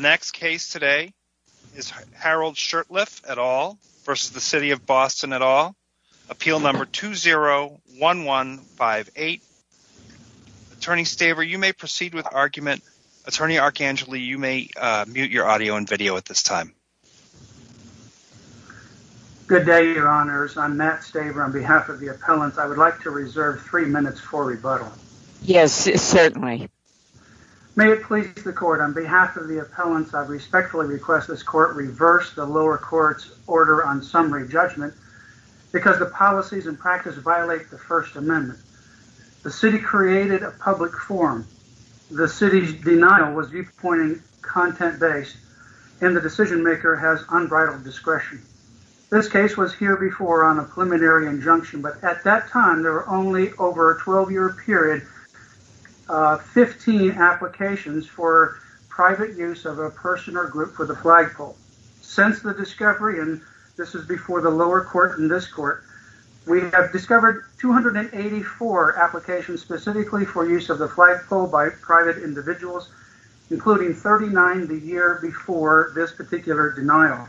Next case is Harold Shurtleff v. City of Boston Appeal No. 201158 Attorney Staver, you may proceed with the argument. Attorney Archangeli, you may mute your audio and video at this time. Good day, Your Honors. I'm Matt Staver on behalf of the appellants. I would like to reserve three minutes for rebuttal. Yes, certainly. May it please the court, on behalf of the appellants, I respectfully request this court reverse the lower court's order on summary judgment because the policies and practice violate the First Amendment. The city created a public forum. The city's denial was viewpointing content-based, and the decision maker has unbridled discretion. This case was here before on a preliminary injunction, but at that time there were only over a 12-year period 15 applications for private use of a person or group for the flagpole. Since the discovery, and this is before the lower court and this court, we have discovered 284 applications specifically for use of the flagpole by private individuals, including 39 the year before this particular denial.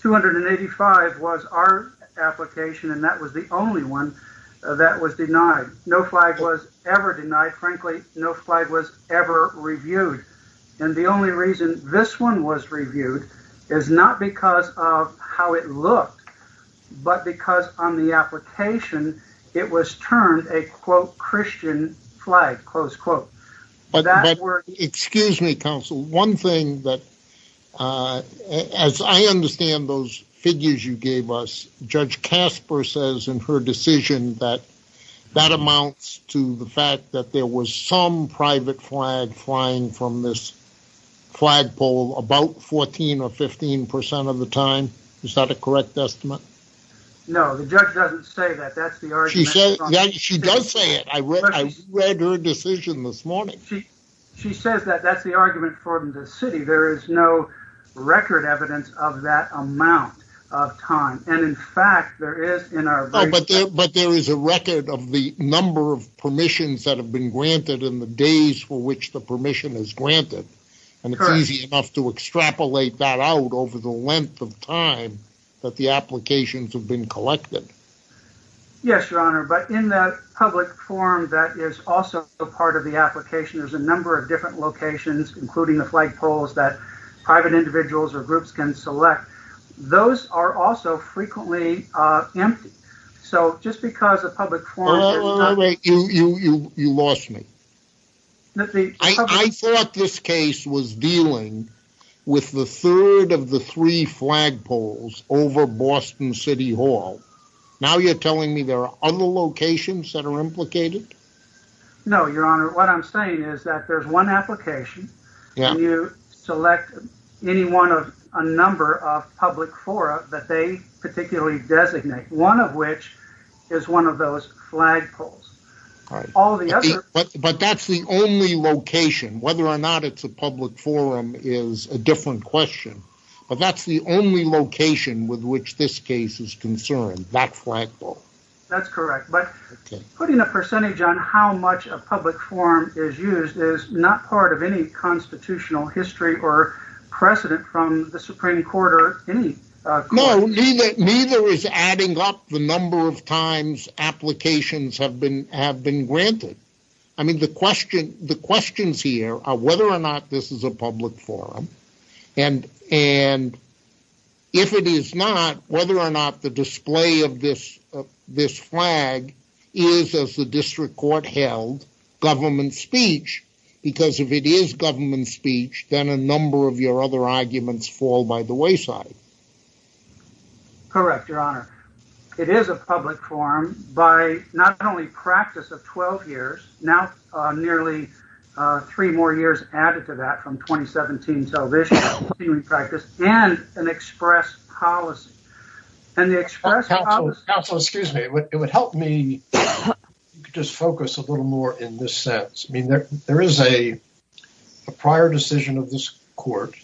285 was our application, and that was the only one that was denied. No flag was ever denied. Frankly, no flag was ever reviewed. And the only reason this one was reviewed is not because of how it looked, but because on the application it was turned a, quote, Christian flag, close quote. Excuse me, counsel. One thing that, as I understand those figures you gave us, Judge Casper says in her decision that that amounts to the fact that there was some private flag flying from this flagpole about 14 or 15% of the time. Is that a correct estimate? No, the judge doesn't say that. That's the argument. She does say it. I read her decision this morning. She says that that's the argument for the city. There is no record evidence of that amount of time. But there is a record of the number of permissions that have been granted and the days for which the permission is granted. And it's easy enough to extrapolate that out over the length of time that the applications have been collected. Yes, Your Honor, but in that public forum that is also a part of the application, there's a number of different locations, including the flagpoles that private individuals or groups can select. Those are also frequently empty. So just because a public forum... You lost me. I thought this case was dealing with the third of the three flagpoles over Boston City Hall. Now you're telling me there are other locations that are implicated? No, Your Honor. What I'm saying is that there's one application. You select any one of a number of public forums that they particularly designate, one of which is one of those flagpoles. But that's the only location. Whether or not it's a public forum is a different question. But that's the only location with which this case is concerned, that flagpole. That's correct. But putting a percentage on how much a public forum is used is not part of any constitutional history or precedent from the Supreme Court or any court. No, neither is adding up the number of times applications have been granted. I mean, the questions here are whether or not this is a public forum. And if it is not, whether or not the display of this flag is, as the district court held, government speech. Because if it is government speech, then a number of your other arguments fall by the wayside. Correct, Your Honor. It is a public forum by not only practice of 12 years, now nearly three more years added to that from 2017 television practice and an express policy. Counsel, excuse me, it would help me just focus a little more in this sense. I mean, there is a prior decision of this court,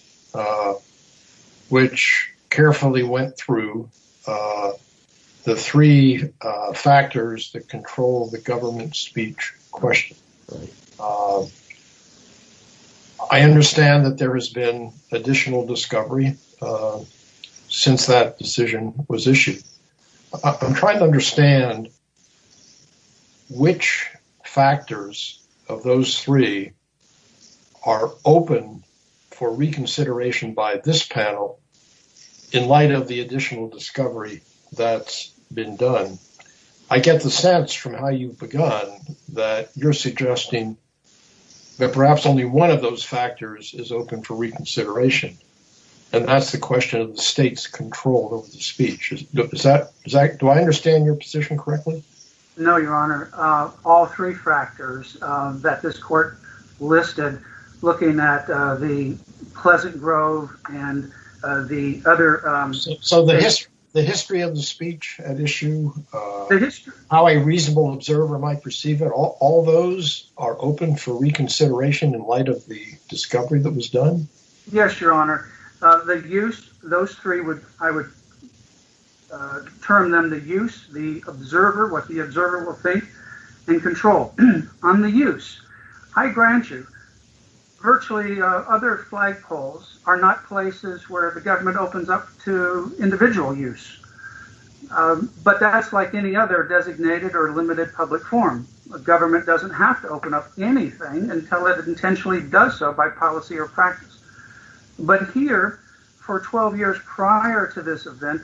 which carefully went through the three factors that control the government speech question. I understand that there has been additional discovery since that decision was issued. I'm trying to understand which factors of those three are open for reconsideration by this panel in light of the additional discovery that's been done. I get the sense from how you've begun that you're suggesting that perhaps only one of those factors is open for reconsideration. And that's the question of the state's control of the speech. Do I understand your position correctly? No, Your Honor. All three factors that this court listed, looking at the Pleasant Grove and the other... So the history of the speech at issue, how a reasonable observer might perceive it, all those are open for reconsideration in light of the discovery that was done? Yes, Your Honor. The use, those three, I would term them the use, the observer, what the observer will think, and control. On the use, I grant you, virtually other flagpoles are not places where the government opens up to individual use. But that's like any other designated or limited public forum. A government doesn't have to open up anything until it intentionally does so by policy or practice. But here, for 12 years prior to this event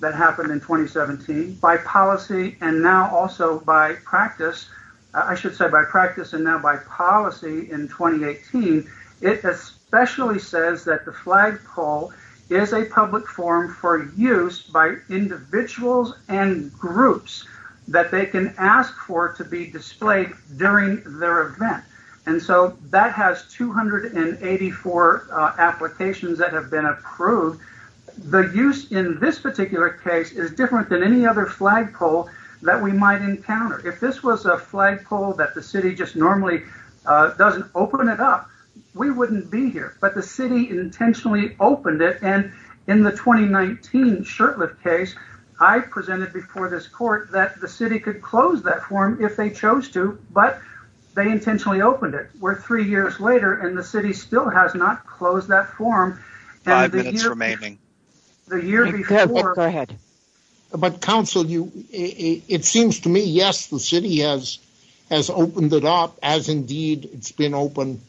that happened in 2017, by policy and now also by practice, I should say by practice and now by policy in 2018, it especially says that the flagpole is a public forum for use by individuals and groups that they can ask for to be displayed during their event. And so that has 284 applications that have been approved. The use in this particular case is different than any other flagpole that we might encounter. If this was a flagpole that the city just normally doesn't open it up, we wouldn't be here. But the city intentionally opened it. And in the 2019 Shurtleff case, I presented before this court that the city could close that forum if they chose to, but they intentionally opened it. Where three years later, and the city still has not closed that forum. Five minutes remaining. Go ahead. But counsel, it seems to me, yes, the city has opened it up, as indeed it's been open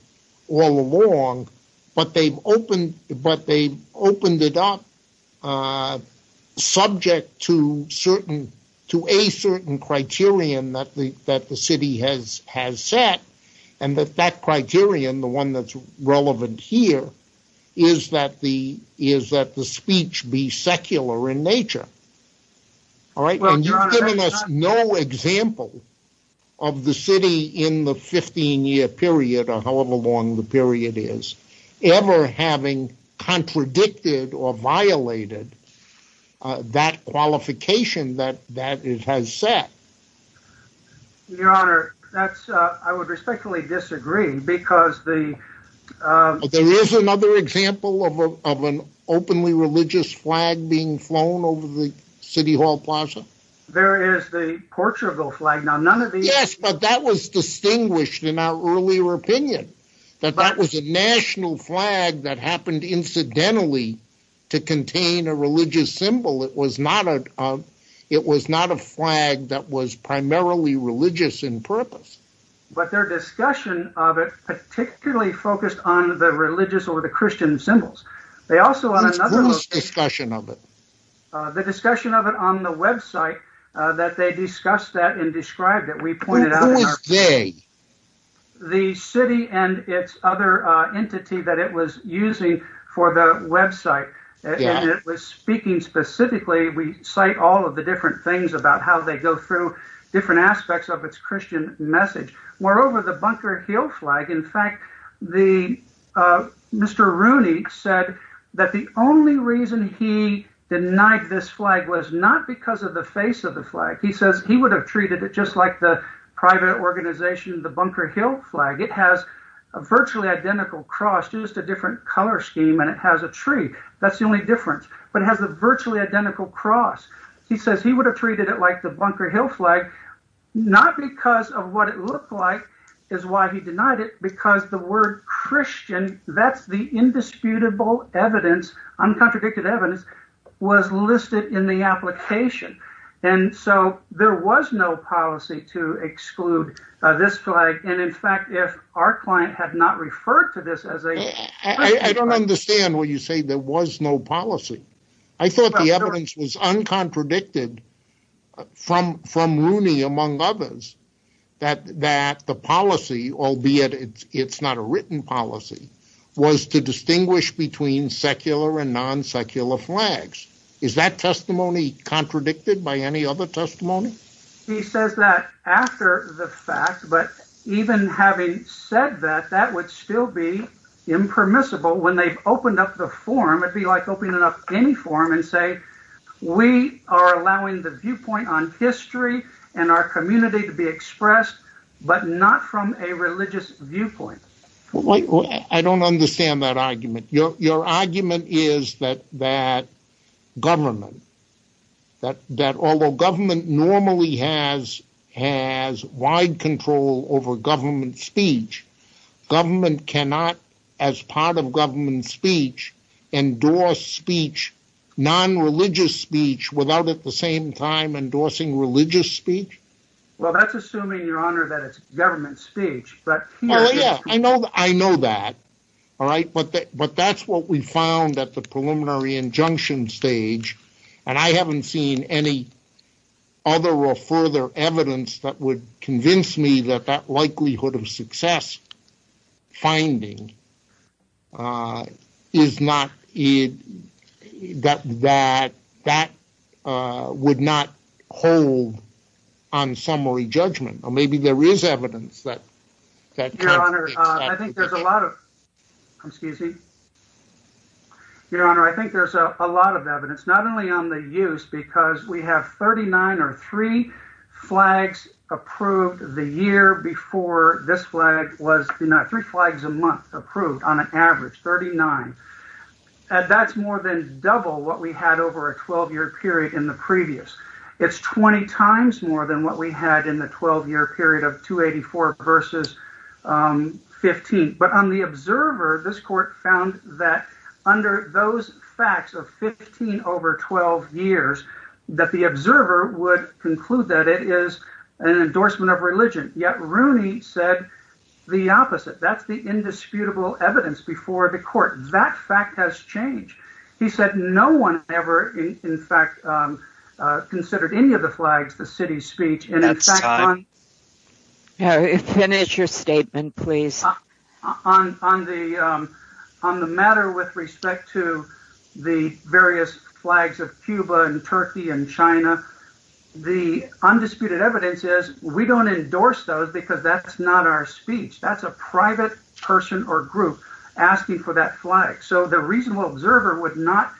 all along. But they've opened it up subject to a certain criterion that the city has set. And that criterion, the one that's relevant here, is that the speech be secular in nature. And you've given us no example of the city in the 15-year period, or however long the period is, ever having contradicted or violated that qualification that it has set. Your Honor, I would respectfully disagree. There is another example of an openly religious flag being flown over the city hall plaza. There is the Portugal flag. Yes, but that was distinguished in our earlier opinion. That that was a national flag that happened incidentally to contain a religious symbol. It was not a flag that was primarily religious in purpose. But their discussion of it particularly focused on the religious or the Christian symbols. Whose discussion of it? The discussion of it on the website that they discussed that and described it. Who was they? The city and its other entity that it was using for the website. And it was speaking specifically, we cite all of the different things about how they go through different aspects of its Christian message. Moreover, the Bunker Hill flag, in fact, Mr. Rooney said that the only reason he denied this flag was not because of the face of the flag. He says he would have treated it just like the private organization, the Bunker Hill flag. It has a virtually identical cross, just a different color scheme, and it has a tree. That's the only difference. But it has a virtually identical cross. He says he would have treated it like the Bunker Hill flag, not because of what it looked like is why he denied it. Because the word Christian, that's the indisputable evidence, uncontradicted evidence, was listed in the application. And so there was no policy to exclude this flag. And, in fact, if our client had not referred to this as a… I don't understand when you say there was no policy. I thought the evidence was uncontradicted from Rooney, among others, that the policy, albeit it's not a written policy, was to distinguish between secular and non-secular flags. Is that testimony contradicted by any other testimony? He says that after the fact, but even having said that, that would still be impermissible when they've opened up the form. It would be like opening up any form and saying, we are allowing the viewpoint on history and our community to be expressed, but not from a religious viewpoint. I don't understand that argument. Your argument is that government, although government normally has wide control over government speech, government cannot, as part of government speech, endorse speech, non-religious speech, without at the same time endorsing religious speech? Well, that's assuming, Your Honor, that it's government speech. I know that, but that's what we found at the preliminary injunction stage, and I haven't seen any other or further evidence that would convince me that that likelihood of success finding is not… Your Honor, I think there's a lot of, excuse me, Your Honor, I think there's a lot of evidence, not only on the use, because we have 39 or three flags approved the year before this flag was, three flags a month approved on an average, 39. And that's more than double what we had over a 12-year period in the previous. It's 20 times more than what we had in the 12-year period of 284 versus 15. But on the observer, this court found that under those facts of 15 over 12 years, that the observer would conclude that it is an endorsement of religion. Yet Rooney said the opposite. That's the indisputable evidence before the court. That fact has changed. He said no one ever, in fact, considered any of the flags the city's speech. That's time. Finish your statement, please. On the matter with respect to the various flags of Cuba and Turkey and China, the undisputed evidence is we don't endorse those because that's not our speech. That's a private person or group asking for that flag. So the reasonable observer would not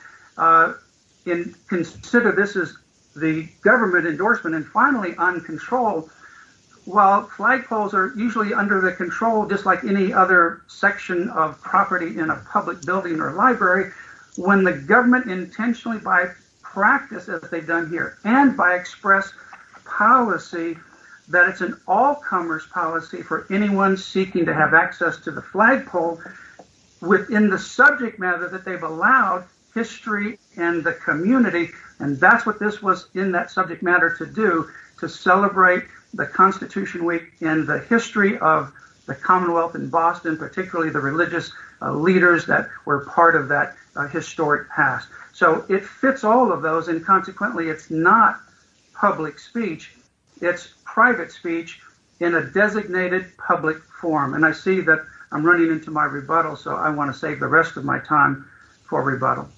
consider this as the government endorsement. While flagpoles are usually under the control, just like any other section of property in a public building or library, when the government intentionally by practice, as they've done here, and by express policy, that it's an all-comers policy for anyone seeking to have access to the flagpole within the subject matter that they've allowed history and the community. And that's what this was in that subject matter to do, to celebrate the Constitution Week and the history of the Commonwealth in Boston, particularly the religious leaders that were part of that historic past. So it fits all of those. And consequently, it's not public speech. It's private speech in a designated public forum. And I see that I'm running into my rebuttal. So I want to save the rest of my time for rebuttal.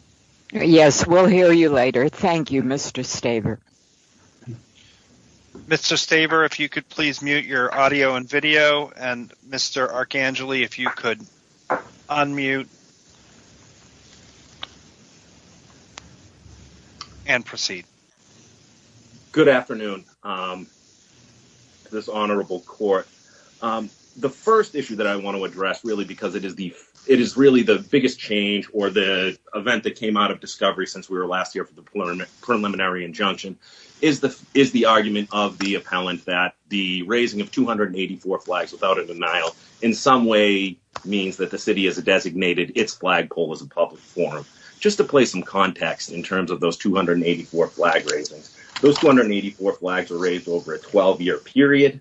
Yes, we'll hear you later. Thank you, Mr. Staver. Mr. Staver, if you could please mute your audio and video. And Mr. Archangelou, if you could unmute and proceed. Good afternoon. This honorable court. The first issue that I want to address, really, because it is really the biggest change or the event that came out of discovery since we were last here for the preliminary injunction, is the argument of the appellant that the raising of 284 flags without a denial in some way means that the city has designated its flagpole as a public forum. Just to play some context in terms of those 284 flag raisings, those 284 flags were raised over a 12-year period.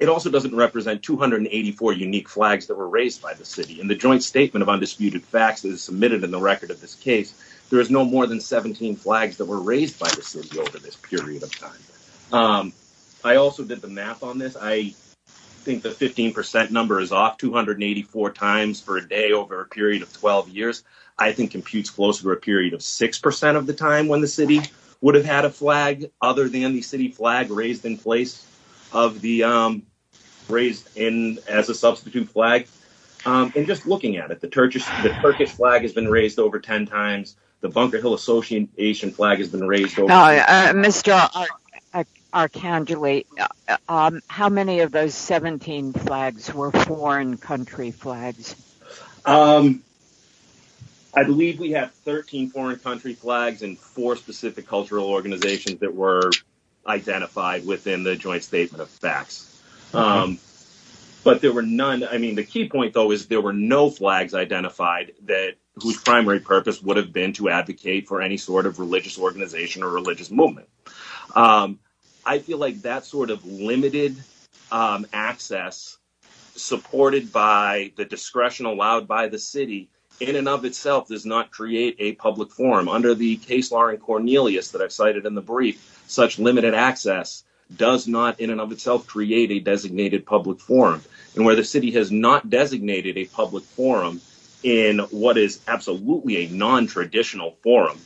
It also doesn't represent 284 unique flags that were raised by the city. In the joint statement of undisputed facts that is submitted in the record of this case, there is no more than 17 flags that were raised by the city over this period of time. I also did the math on this. I think the 15% number is off 284 times per day over a period of 12 years. I think it computes close to a period of 6% of the time when the city would have had a flag other than the city flag raised in place of the raised in as a substitute flag. And just looking at it, the Turkish flag has been raised over 10 times. The Bunker Hill Association flag has been raised over 10 times. Mr. Arcangeli, how many of those 17 flags were foreign country flags? I believe we have 13 foreign country flags and 4 specific cultural organizations that were identified within the joint statement of facts. The key point, though, is there were no flags identified whose primary purpose would have been to advocate for any sort of religious organization or religious movement. I feel like that sort of limited access supported by the discretion allowed by the city in and of itself does not create a public forum. Under the case law in Cornelius that I cited in the brief, such limited access does not in and of itself create a designated public forum. And where the city has not designated a public forum in what is absolutely a non-traditional forum,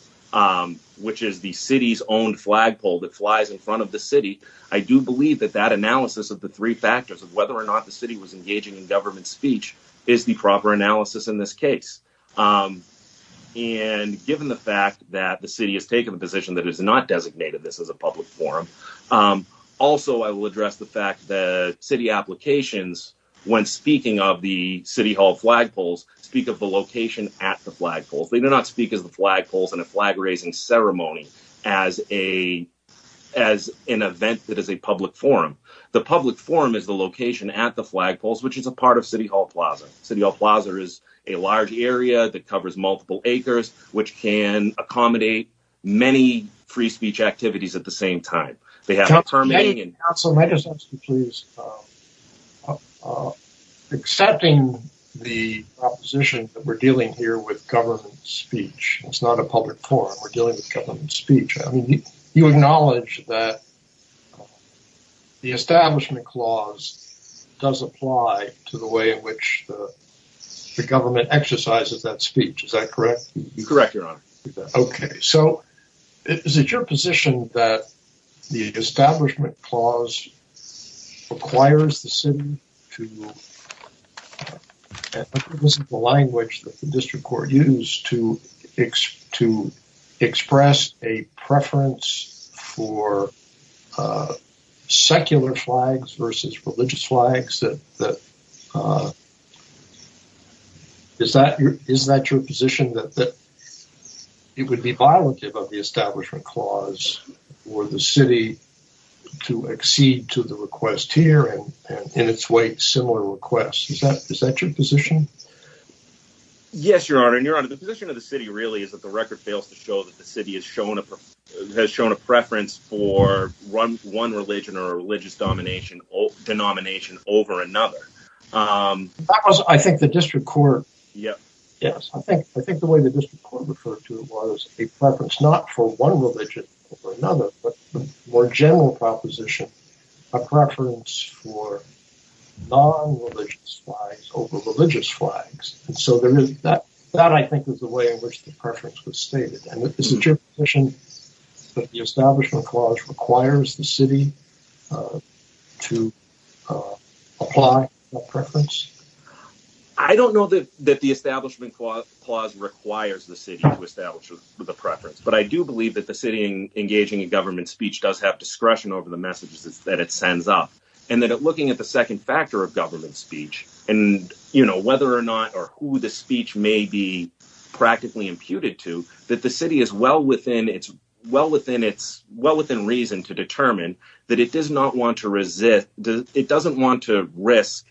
which is the city's own flagpole that flies in front of the city, I do believe that that analysis of the three factors of whether or not the city was engaging in government speech is the proper analysis in this case. And given the fact that the city has taken the position that it has not designated this as a public forum, also I will address the fact that city applications, when speaking of the City Hall flagpoles, speak of the location at the flagpoles. They do not speak of the flagpoles in a flag-raising ceremony as an event that is a public forum. The public forum is the location at the flagpoles, which is a part of City Hall Plaza. City Hall Plaza is a large area that covers multiple acres, which can accommodate many free speech activities at the same time. They have a permitting and… Councilman, may I just ask you please, accepting the proposition that we're dealing here with government speech, it's not a public forum, we're dealing with government speech, you acknowledge that the Establishment Clause does apply to the way in which the government exercises that speech, is that correct? Okay, so is it your position that the Establishment Clause requires the city to… Is that your position, that it would be violative of the Establishment Clause for the city to accede to the request here, and in its way, similar requests? Is that your position? Yes, Your Honor, and Your Honor, the position of the city really is that the record fails to show that the city has shown a preference for one religion or religious denomination over another. That was, I think, the District Court… Yes. Yes, I think the way the District Court referred to it was a preference not for one religion over another, but a more general proposition, a preference for non-religious flags over religious flags. That, I think, is the way in which the preference was stated. Is it your position that the Establishment Clause requires the city to apply that preference? I don't know that the Establishment Clause requires the city to establish the preference, but I do believe that the city engaging in government speech does have discretion over the messages that it sends up. And that looking at the second factor of government speech, and, you know, whether or not or who the speech may be practically imputed to, that the city is well within reason to determine that it does not want to resist, it doesn't want to risk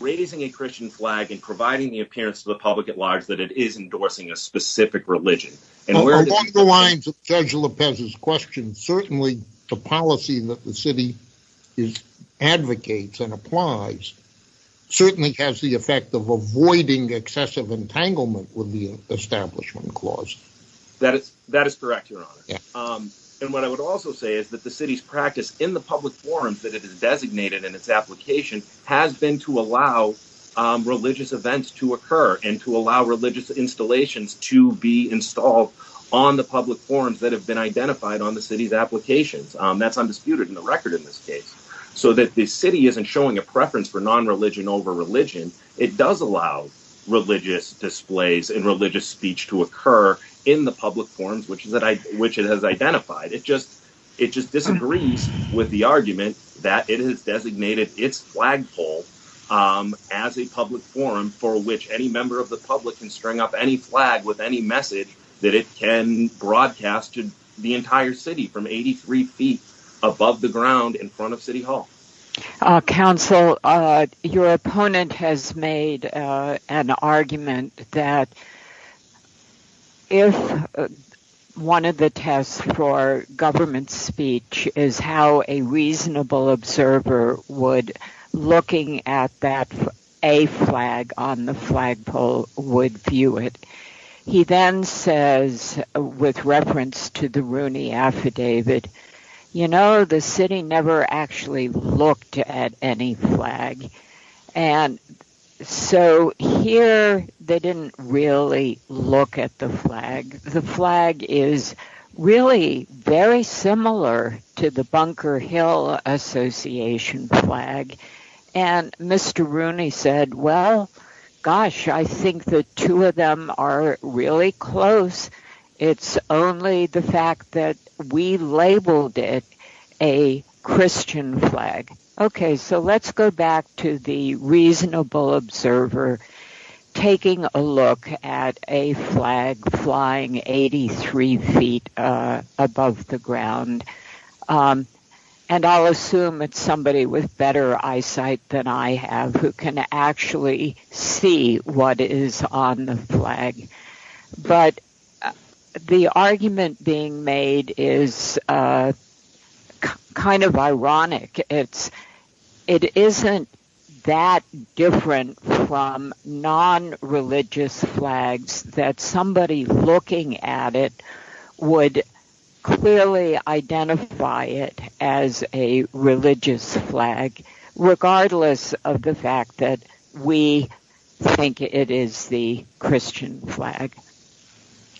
raising a Christian flag and providing the appearance to the public at large that it is endorsing a specific religion. Along the lines of Judge Lopez's question, certainly the policy that the city advocates and applies certainly has the effect of avoiding excessive entanglement with the Establishment Clause. That is correct, Your Honor. And what I would also say is that the city's practice in the public forums that it has designated in its application has been to allow religious events to occur and to allow religious installations to be installed on the public forums that have been identified on the city's applications. That's undisputed in the record in this case. So that the city isn't showing a preference for non-religion over religion, it does allow religious displays and religious speech to occur in the public forums which it has identified. It just disagrees with the argument that it has designated its flagpole as a public forum for which any member of the public can string up any flag with any message that it can broadcast to the entire city from 83 feet above the ground in front of City Hall. Counsel, your opponent has made an argument that if one of the tests for government speech is how a reasonable observer would, looking at that A flag on the flagpole, would view it. He then says, with reference to the Rooney Affidavit, you know the city never actually looked at any flag. And so here they didn't really look at the flag. The flag is really very similar to the Bunker Hill Association flag. And Mr. Rooney said, well, gosh, I think the two of them are really close. It's only the fact that we labeled it a Christian flag. Okay, so let's go back to the reasonable observer taking a look at a flag flying 83 feet above the ground. And I'll assume it's somebody with better eyesight than I have who can actually see what is on the flag. But the argument being made is kind of ironic. It isn't that different from non-religious flags that somebody looking at it would clearly identify it as a religious flag, regardless of the fact that we think it is the Christian flag.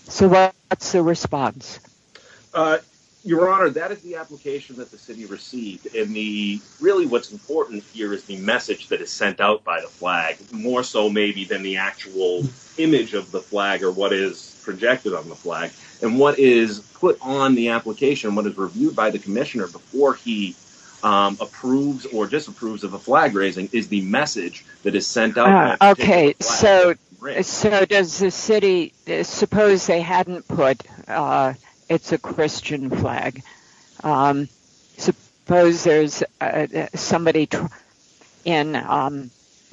So what's the response? Your Honor, that is the application that the city received. And really what's important here is the message that is sent out by the flag, more so maybe than the actual image of the flag or what is projected on the flag. And what is put on the application, what is reviewed by the commissioner before he approves or disapproves of a flag raising, is the message that is sent out. Okay, so does the city, suppose they hadn't put it's a Christian flag. Suppose there's somebody in,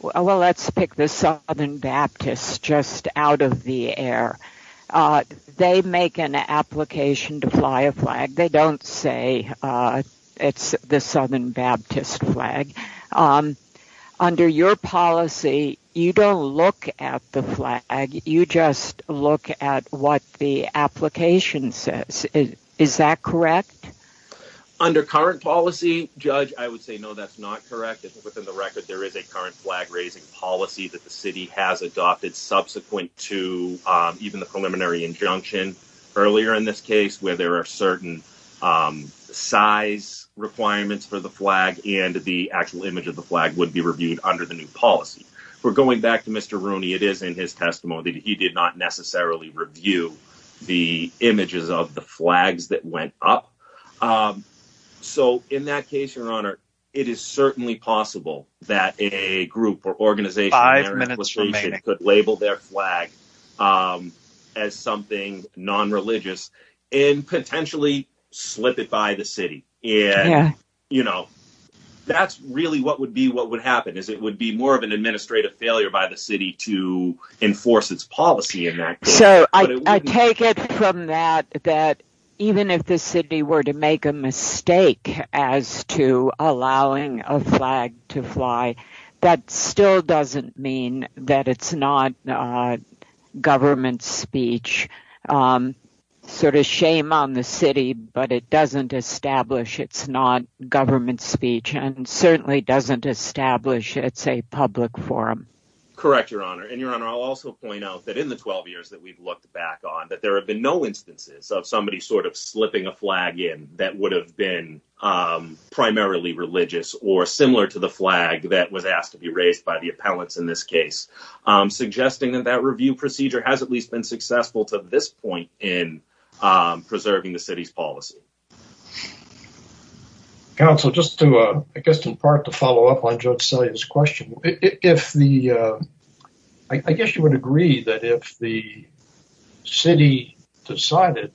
well, let's pick the Southern Baptists just out of the air. They make an application to fly a flag. They don't say it's the Southern Baptist flag. Under your policy, you don't look at the flag. You just look at what the application says. Is that correct? Under current policy, Judge, I would say no, that's not correct. Within the record, there is a current flag raising policy that the city has adopted subsequent to even the preliminary injunction earlier in this case where there are certain size requirements for the flag and the actual image of the flag would be reviewed under the new policy. We're going back to Mr. Rooney. It is in his testimony that he did not necessarily review the images of the flags that went up. So in that case, your honor, it is certainly possible that a group or organization could label their flag as something non-religious and potentially slip it by the city. That's really what would happen is it would be more of an administrative failure by the city to enforce its policy in that case. It certainly doesn't establish it's not government speech and certainly doesn't establish it's a public forum. Correct, your honor. And your honor, I'll also point out that in the 12 years that we've looked back on that, there have been no instances of somebody sort of slipping a flag in that would have been primarily religious or similar to the flag that was asked to be raised by the appellants in this case, suggesting that that review procedure has at least been successful to this point in preserving the city's policy. Counsel, just to, I guess, in part to follow up on Judge Celia's question, I guess you would agree that if the city decided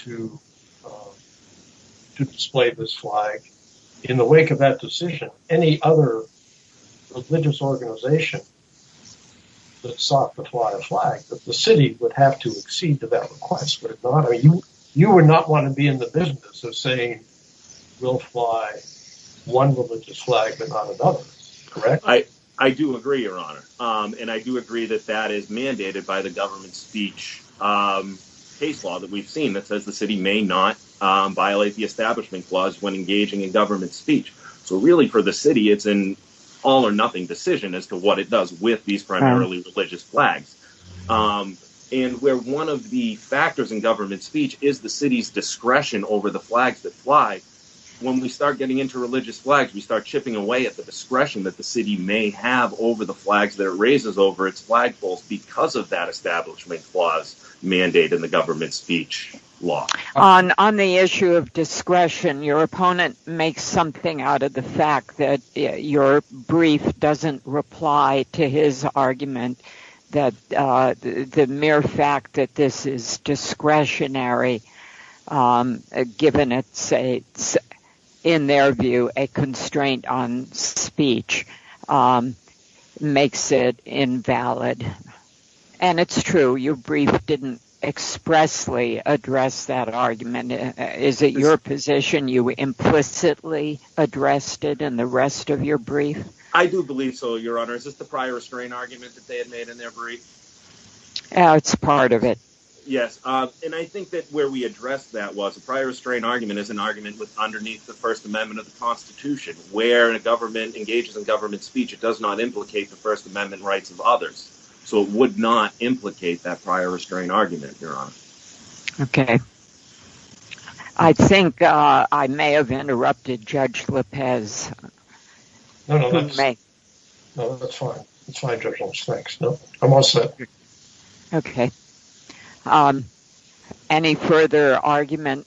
to display this flag in the wake of that decision, any other religious organization that sought to apply a flag, that the city would have to accede to that request, would it not? You would not want to be in the business of saying we'll fly one religious flag but not another, correct? I do agree, your honor. And I do agree that that is mandated by the government speech case law that we've seen that says the city may not violate the establishment clause when engaging in government speech. So really for the city, it's an all or nothing decision as to what it does with these primarily religious flags. And where one of the factors in government speech is the city's discretion over the flags that fly, when we start getting into religious flags, we start chipping away at the discretion that the city may have over the flags that it raises over its flagpoles because of that establishment clause mandate in the government speech law. On the issue of discretion, your opponent makes something out of the fact that your brief doesn't reply to his argument that the mere fact that this is discretionary, given it's, in their view, a constraint on speech, makes it invalid. And it's true, your brief didn't expressly address that argument. Is it your position you implicitly addressed it in the rest of your brief? I do believe so, your honor. Is this the prior restraint argument that they had made in their brief? It's part of it. Yes, and I think that where we addressed that was a prior restraint argument is an argument underneath the First Amendment of the Constitution. Where a government engages in government speech, it does not implicate the First Amendment rights of others. So it would not implicate that prior restraint argument, your honor. Okay. I think I may have interrupted Judge Lippez. No, no, that's fine. That's fine, Judge Lippez. Thanks. No, I'm all set. Okay. Any further argument?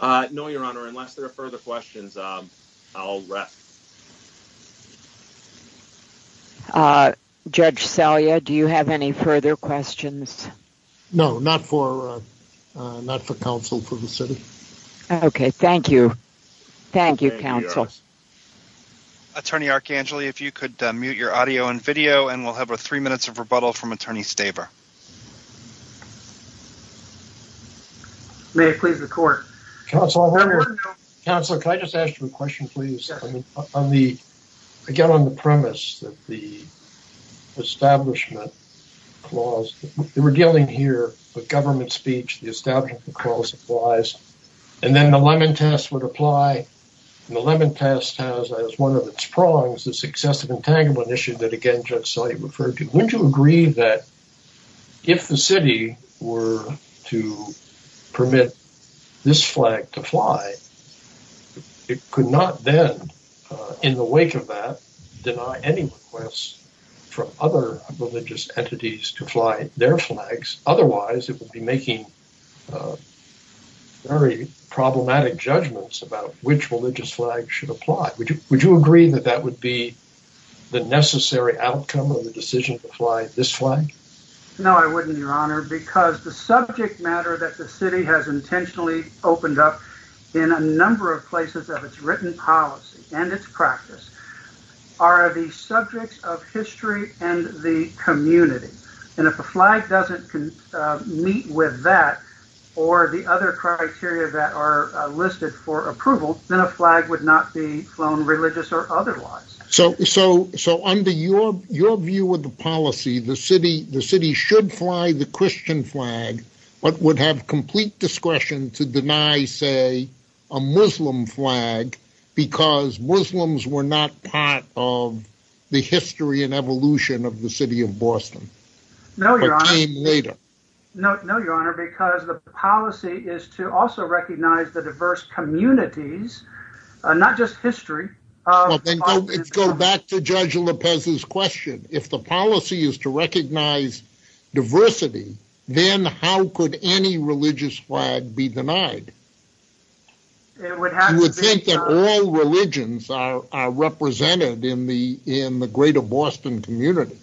No, your honor. Unless there are further questions, I'll wrap. Judge Salyer, do you have any further questions? No, not for counsel for the city. Attorney Arcangeli, if you could mute your audio and video and we'll have a three minutes of rebuttal from Attorney Staver. May it please the court. Counsel, can I just ask you a question, please? Again, on the premise that the establishment clause, they were dealing here with government speech, the establishment clause applies, and then the Lemon Test would apply. And the Lemon Test has as one of its prongs the successive entanglement issue that again Judge Salyer referred to. Would you agree that if the city were to permit this flag to fly, it could not then, in the wake of that, deny any requests from other religious entities to fly their flags? Otherwise, it would be making very problematic judgments about which religious flag should apply. Would you agree that that would be the necessary outcome of the decision to fly this flag? No, I wouldn't, your honor, because the subject matter that the city has intentionally opened up in a number of places of its written policy and its practice are the subjects of history and the community. And if a flag doesn't meet with that, or the other criteria that are listed for approval, then a flag would not be flown religious or otherwise. So under your view of the policy, the city should fly the Christian flag, but would have complete discretion to deny, say, a Muslim flag, because Muslims were not part of the history and evolution of the city of Boston. No, your honor, because the policy is to also recognize the diverse communities, not just history. Let's go back to Judge Lopez's question. If the policy is to recognize diversity, then how could any religious flag be denied? You would think that all religions are represented in the greater Boston community.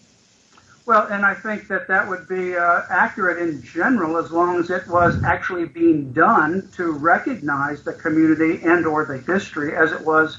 Well, and I think that that would be accurate in general as long as it was actually being done to recognize the community and or the history as it was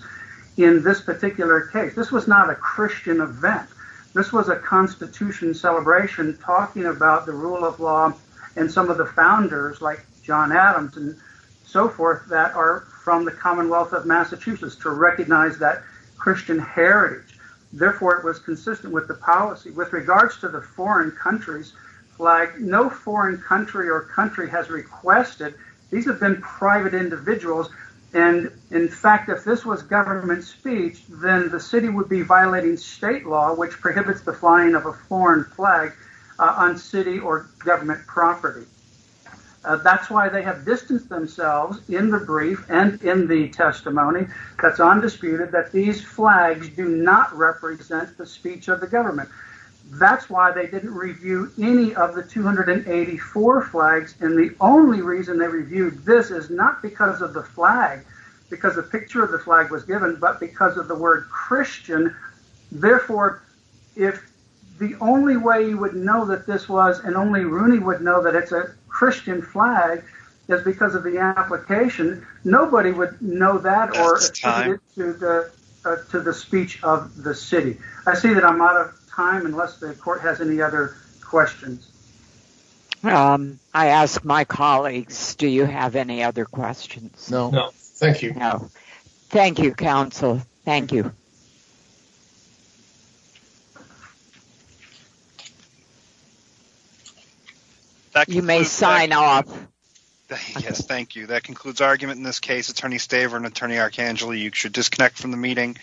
in this particular case. This was not a Christian event. This was a Constitution celebration talking about the rule of law and some of the founders like John Adams and so forth that are from the Commonwealth of Massachusetts to recognize that Christian heritage. Therefore, it was consistent with the policy. With regards to the foreign countries flag, no foreign country or country has requested. These have been private individuals. And in fact, if this was government speech, then the city would be violating state law, which prohibits the flying of a foreign flag on city or government property. That's why they have distanced themselves in the brief and in the testimony that's undisputed that these flags do not represent the speech of the government. That's why they didn't review any of the 284 flags. And the only reason they reviewed this is not because of the flag, because a picture of the flag was given, but because of the word Christian. Therefore, if the only way you would know that this was and only Rooney would know that it's a Christian flag is because of the application, nobody would know that or to the speech of the city. I see that I'm out of time unless the court has any other questions. I asked my colleagues. Do you have any other questions? No. Thank you. Thank you, counsel. Thank you. You may sign off. Yes, thank you. That concludes our argument in this case. Attorney Staver and Attorney Archangel, you should disconnect from the meeting.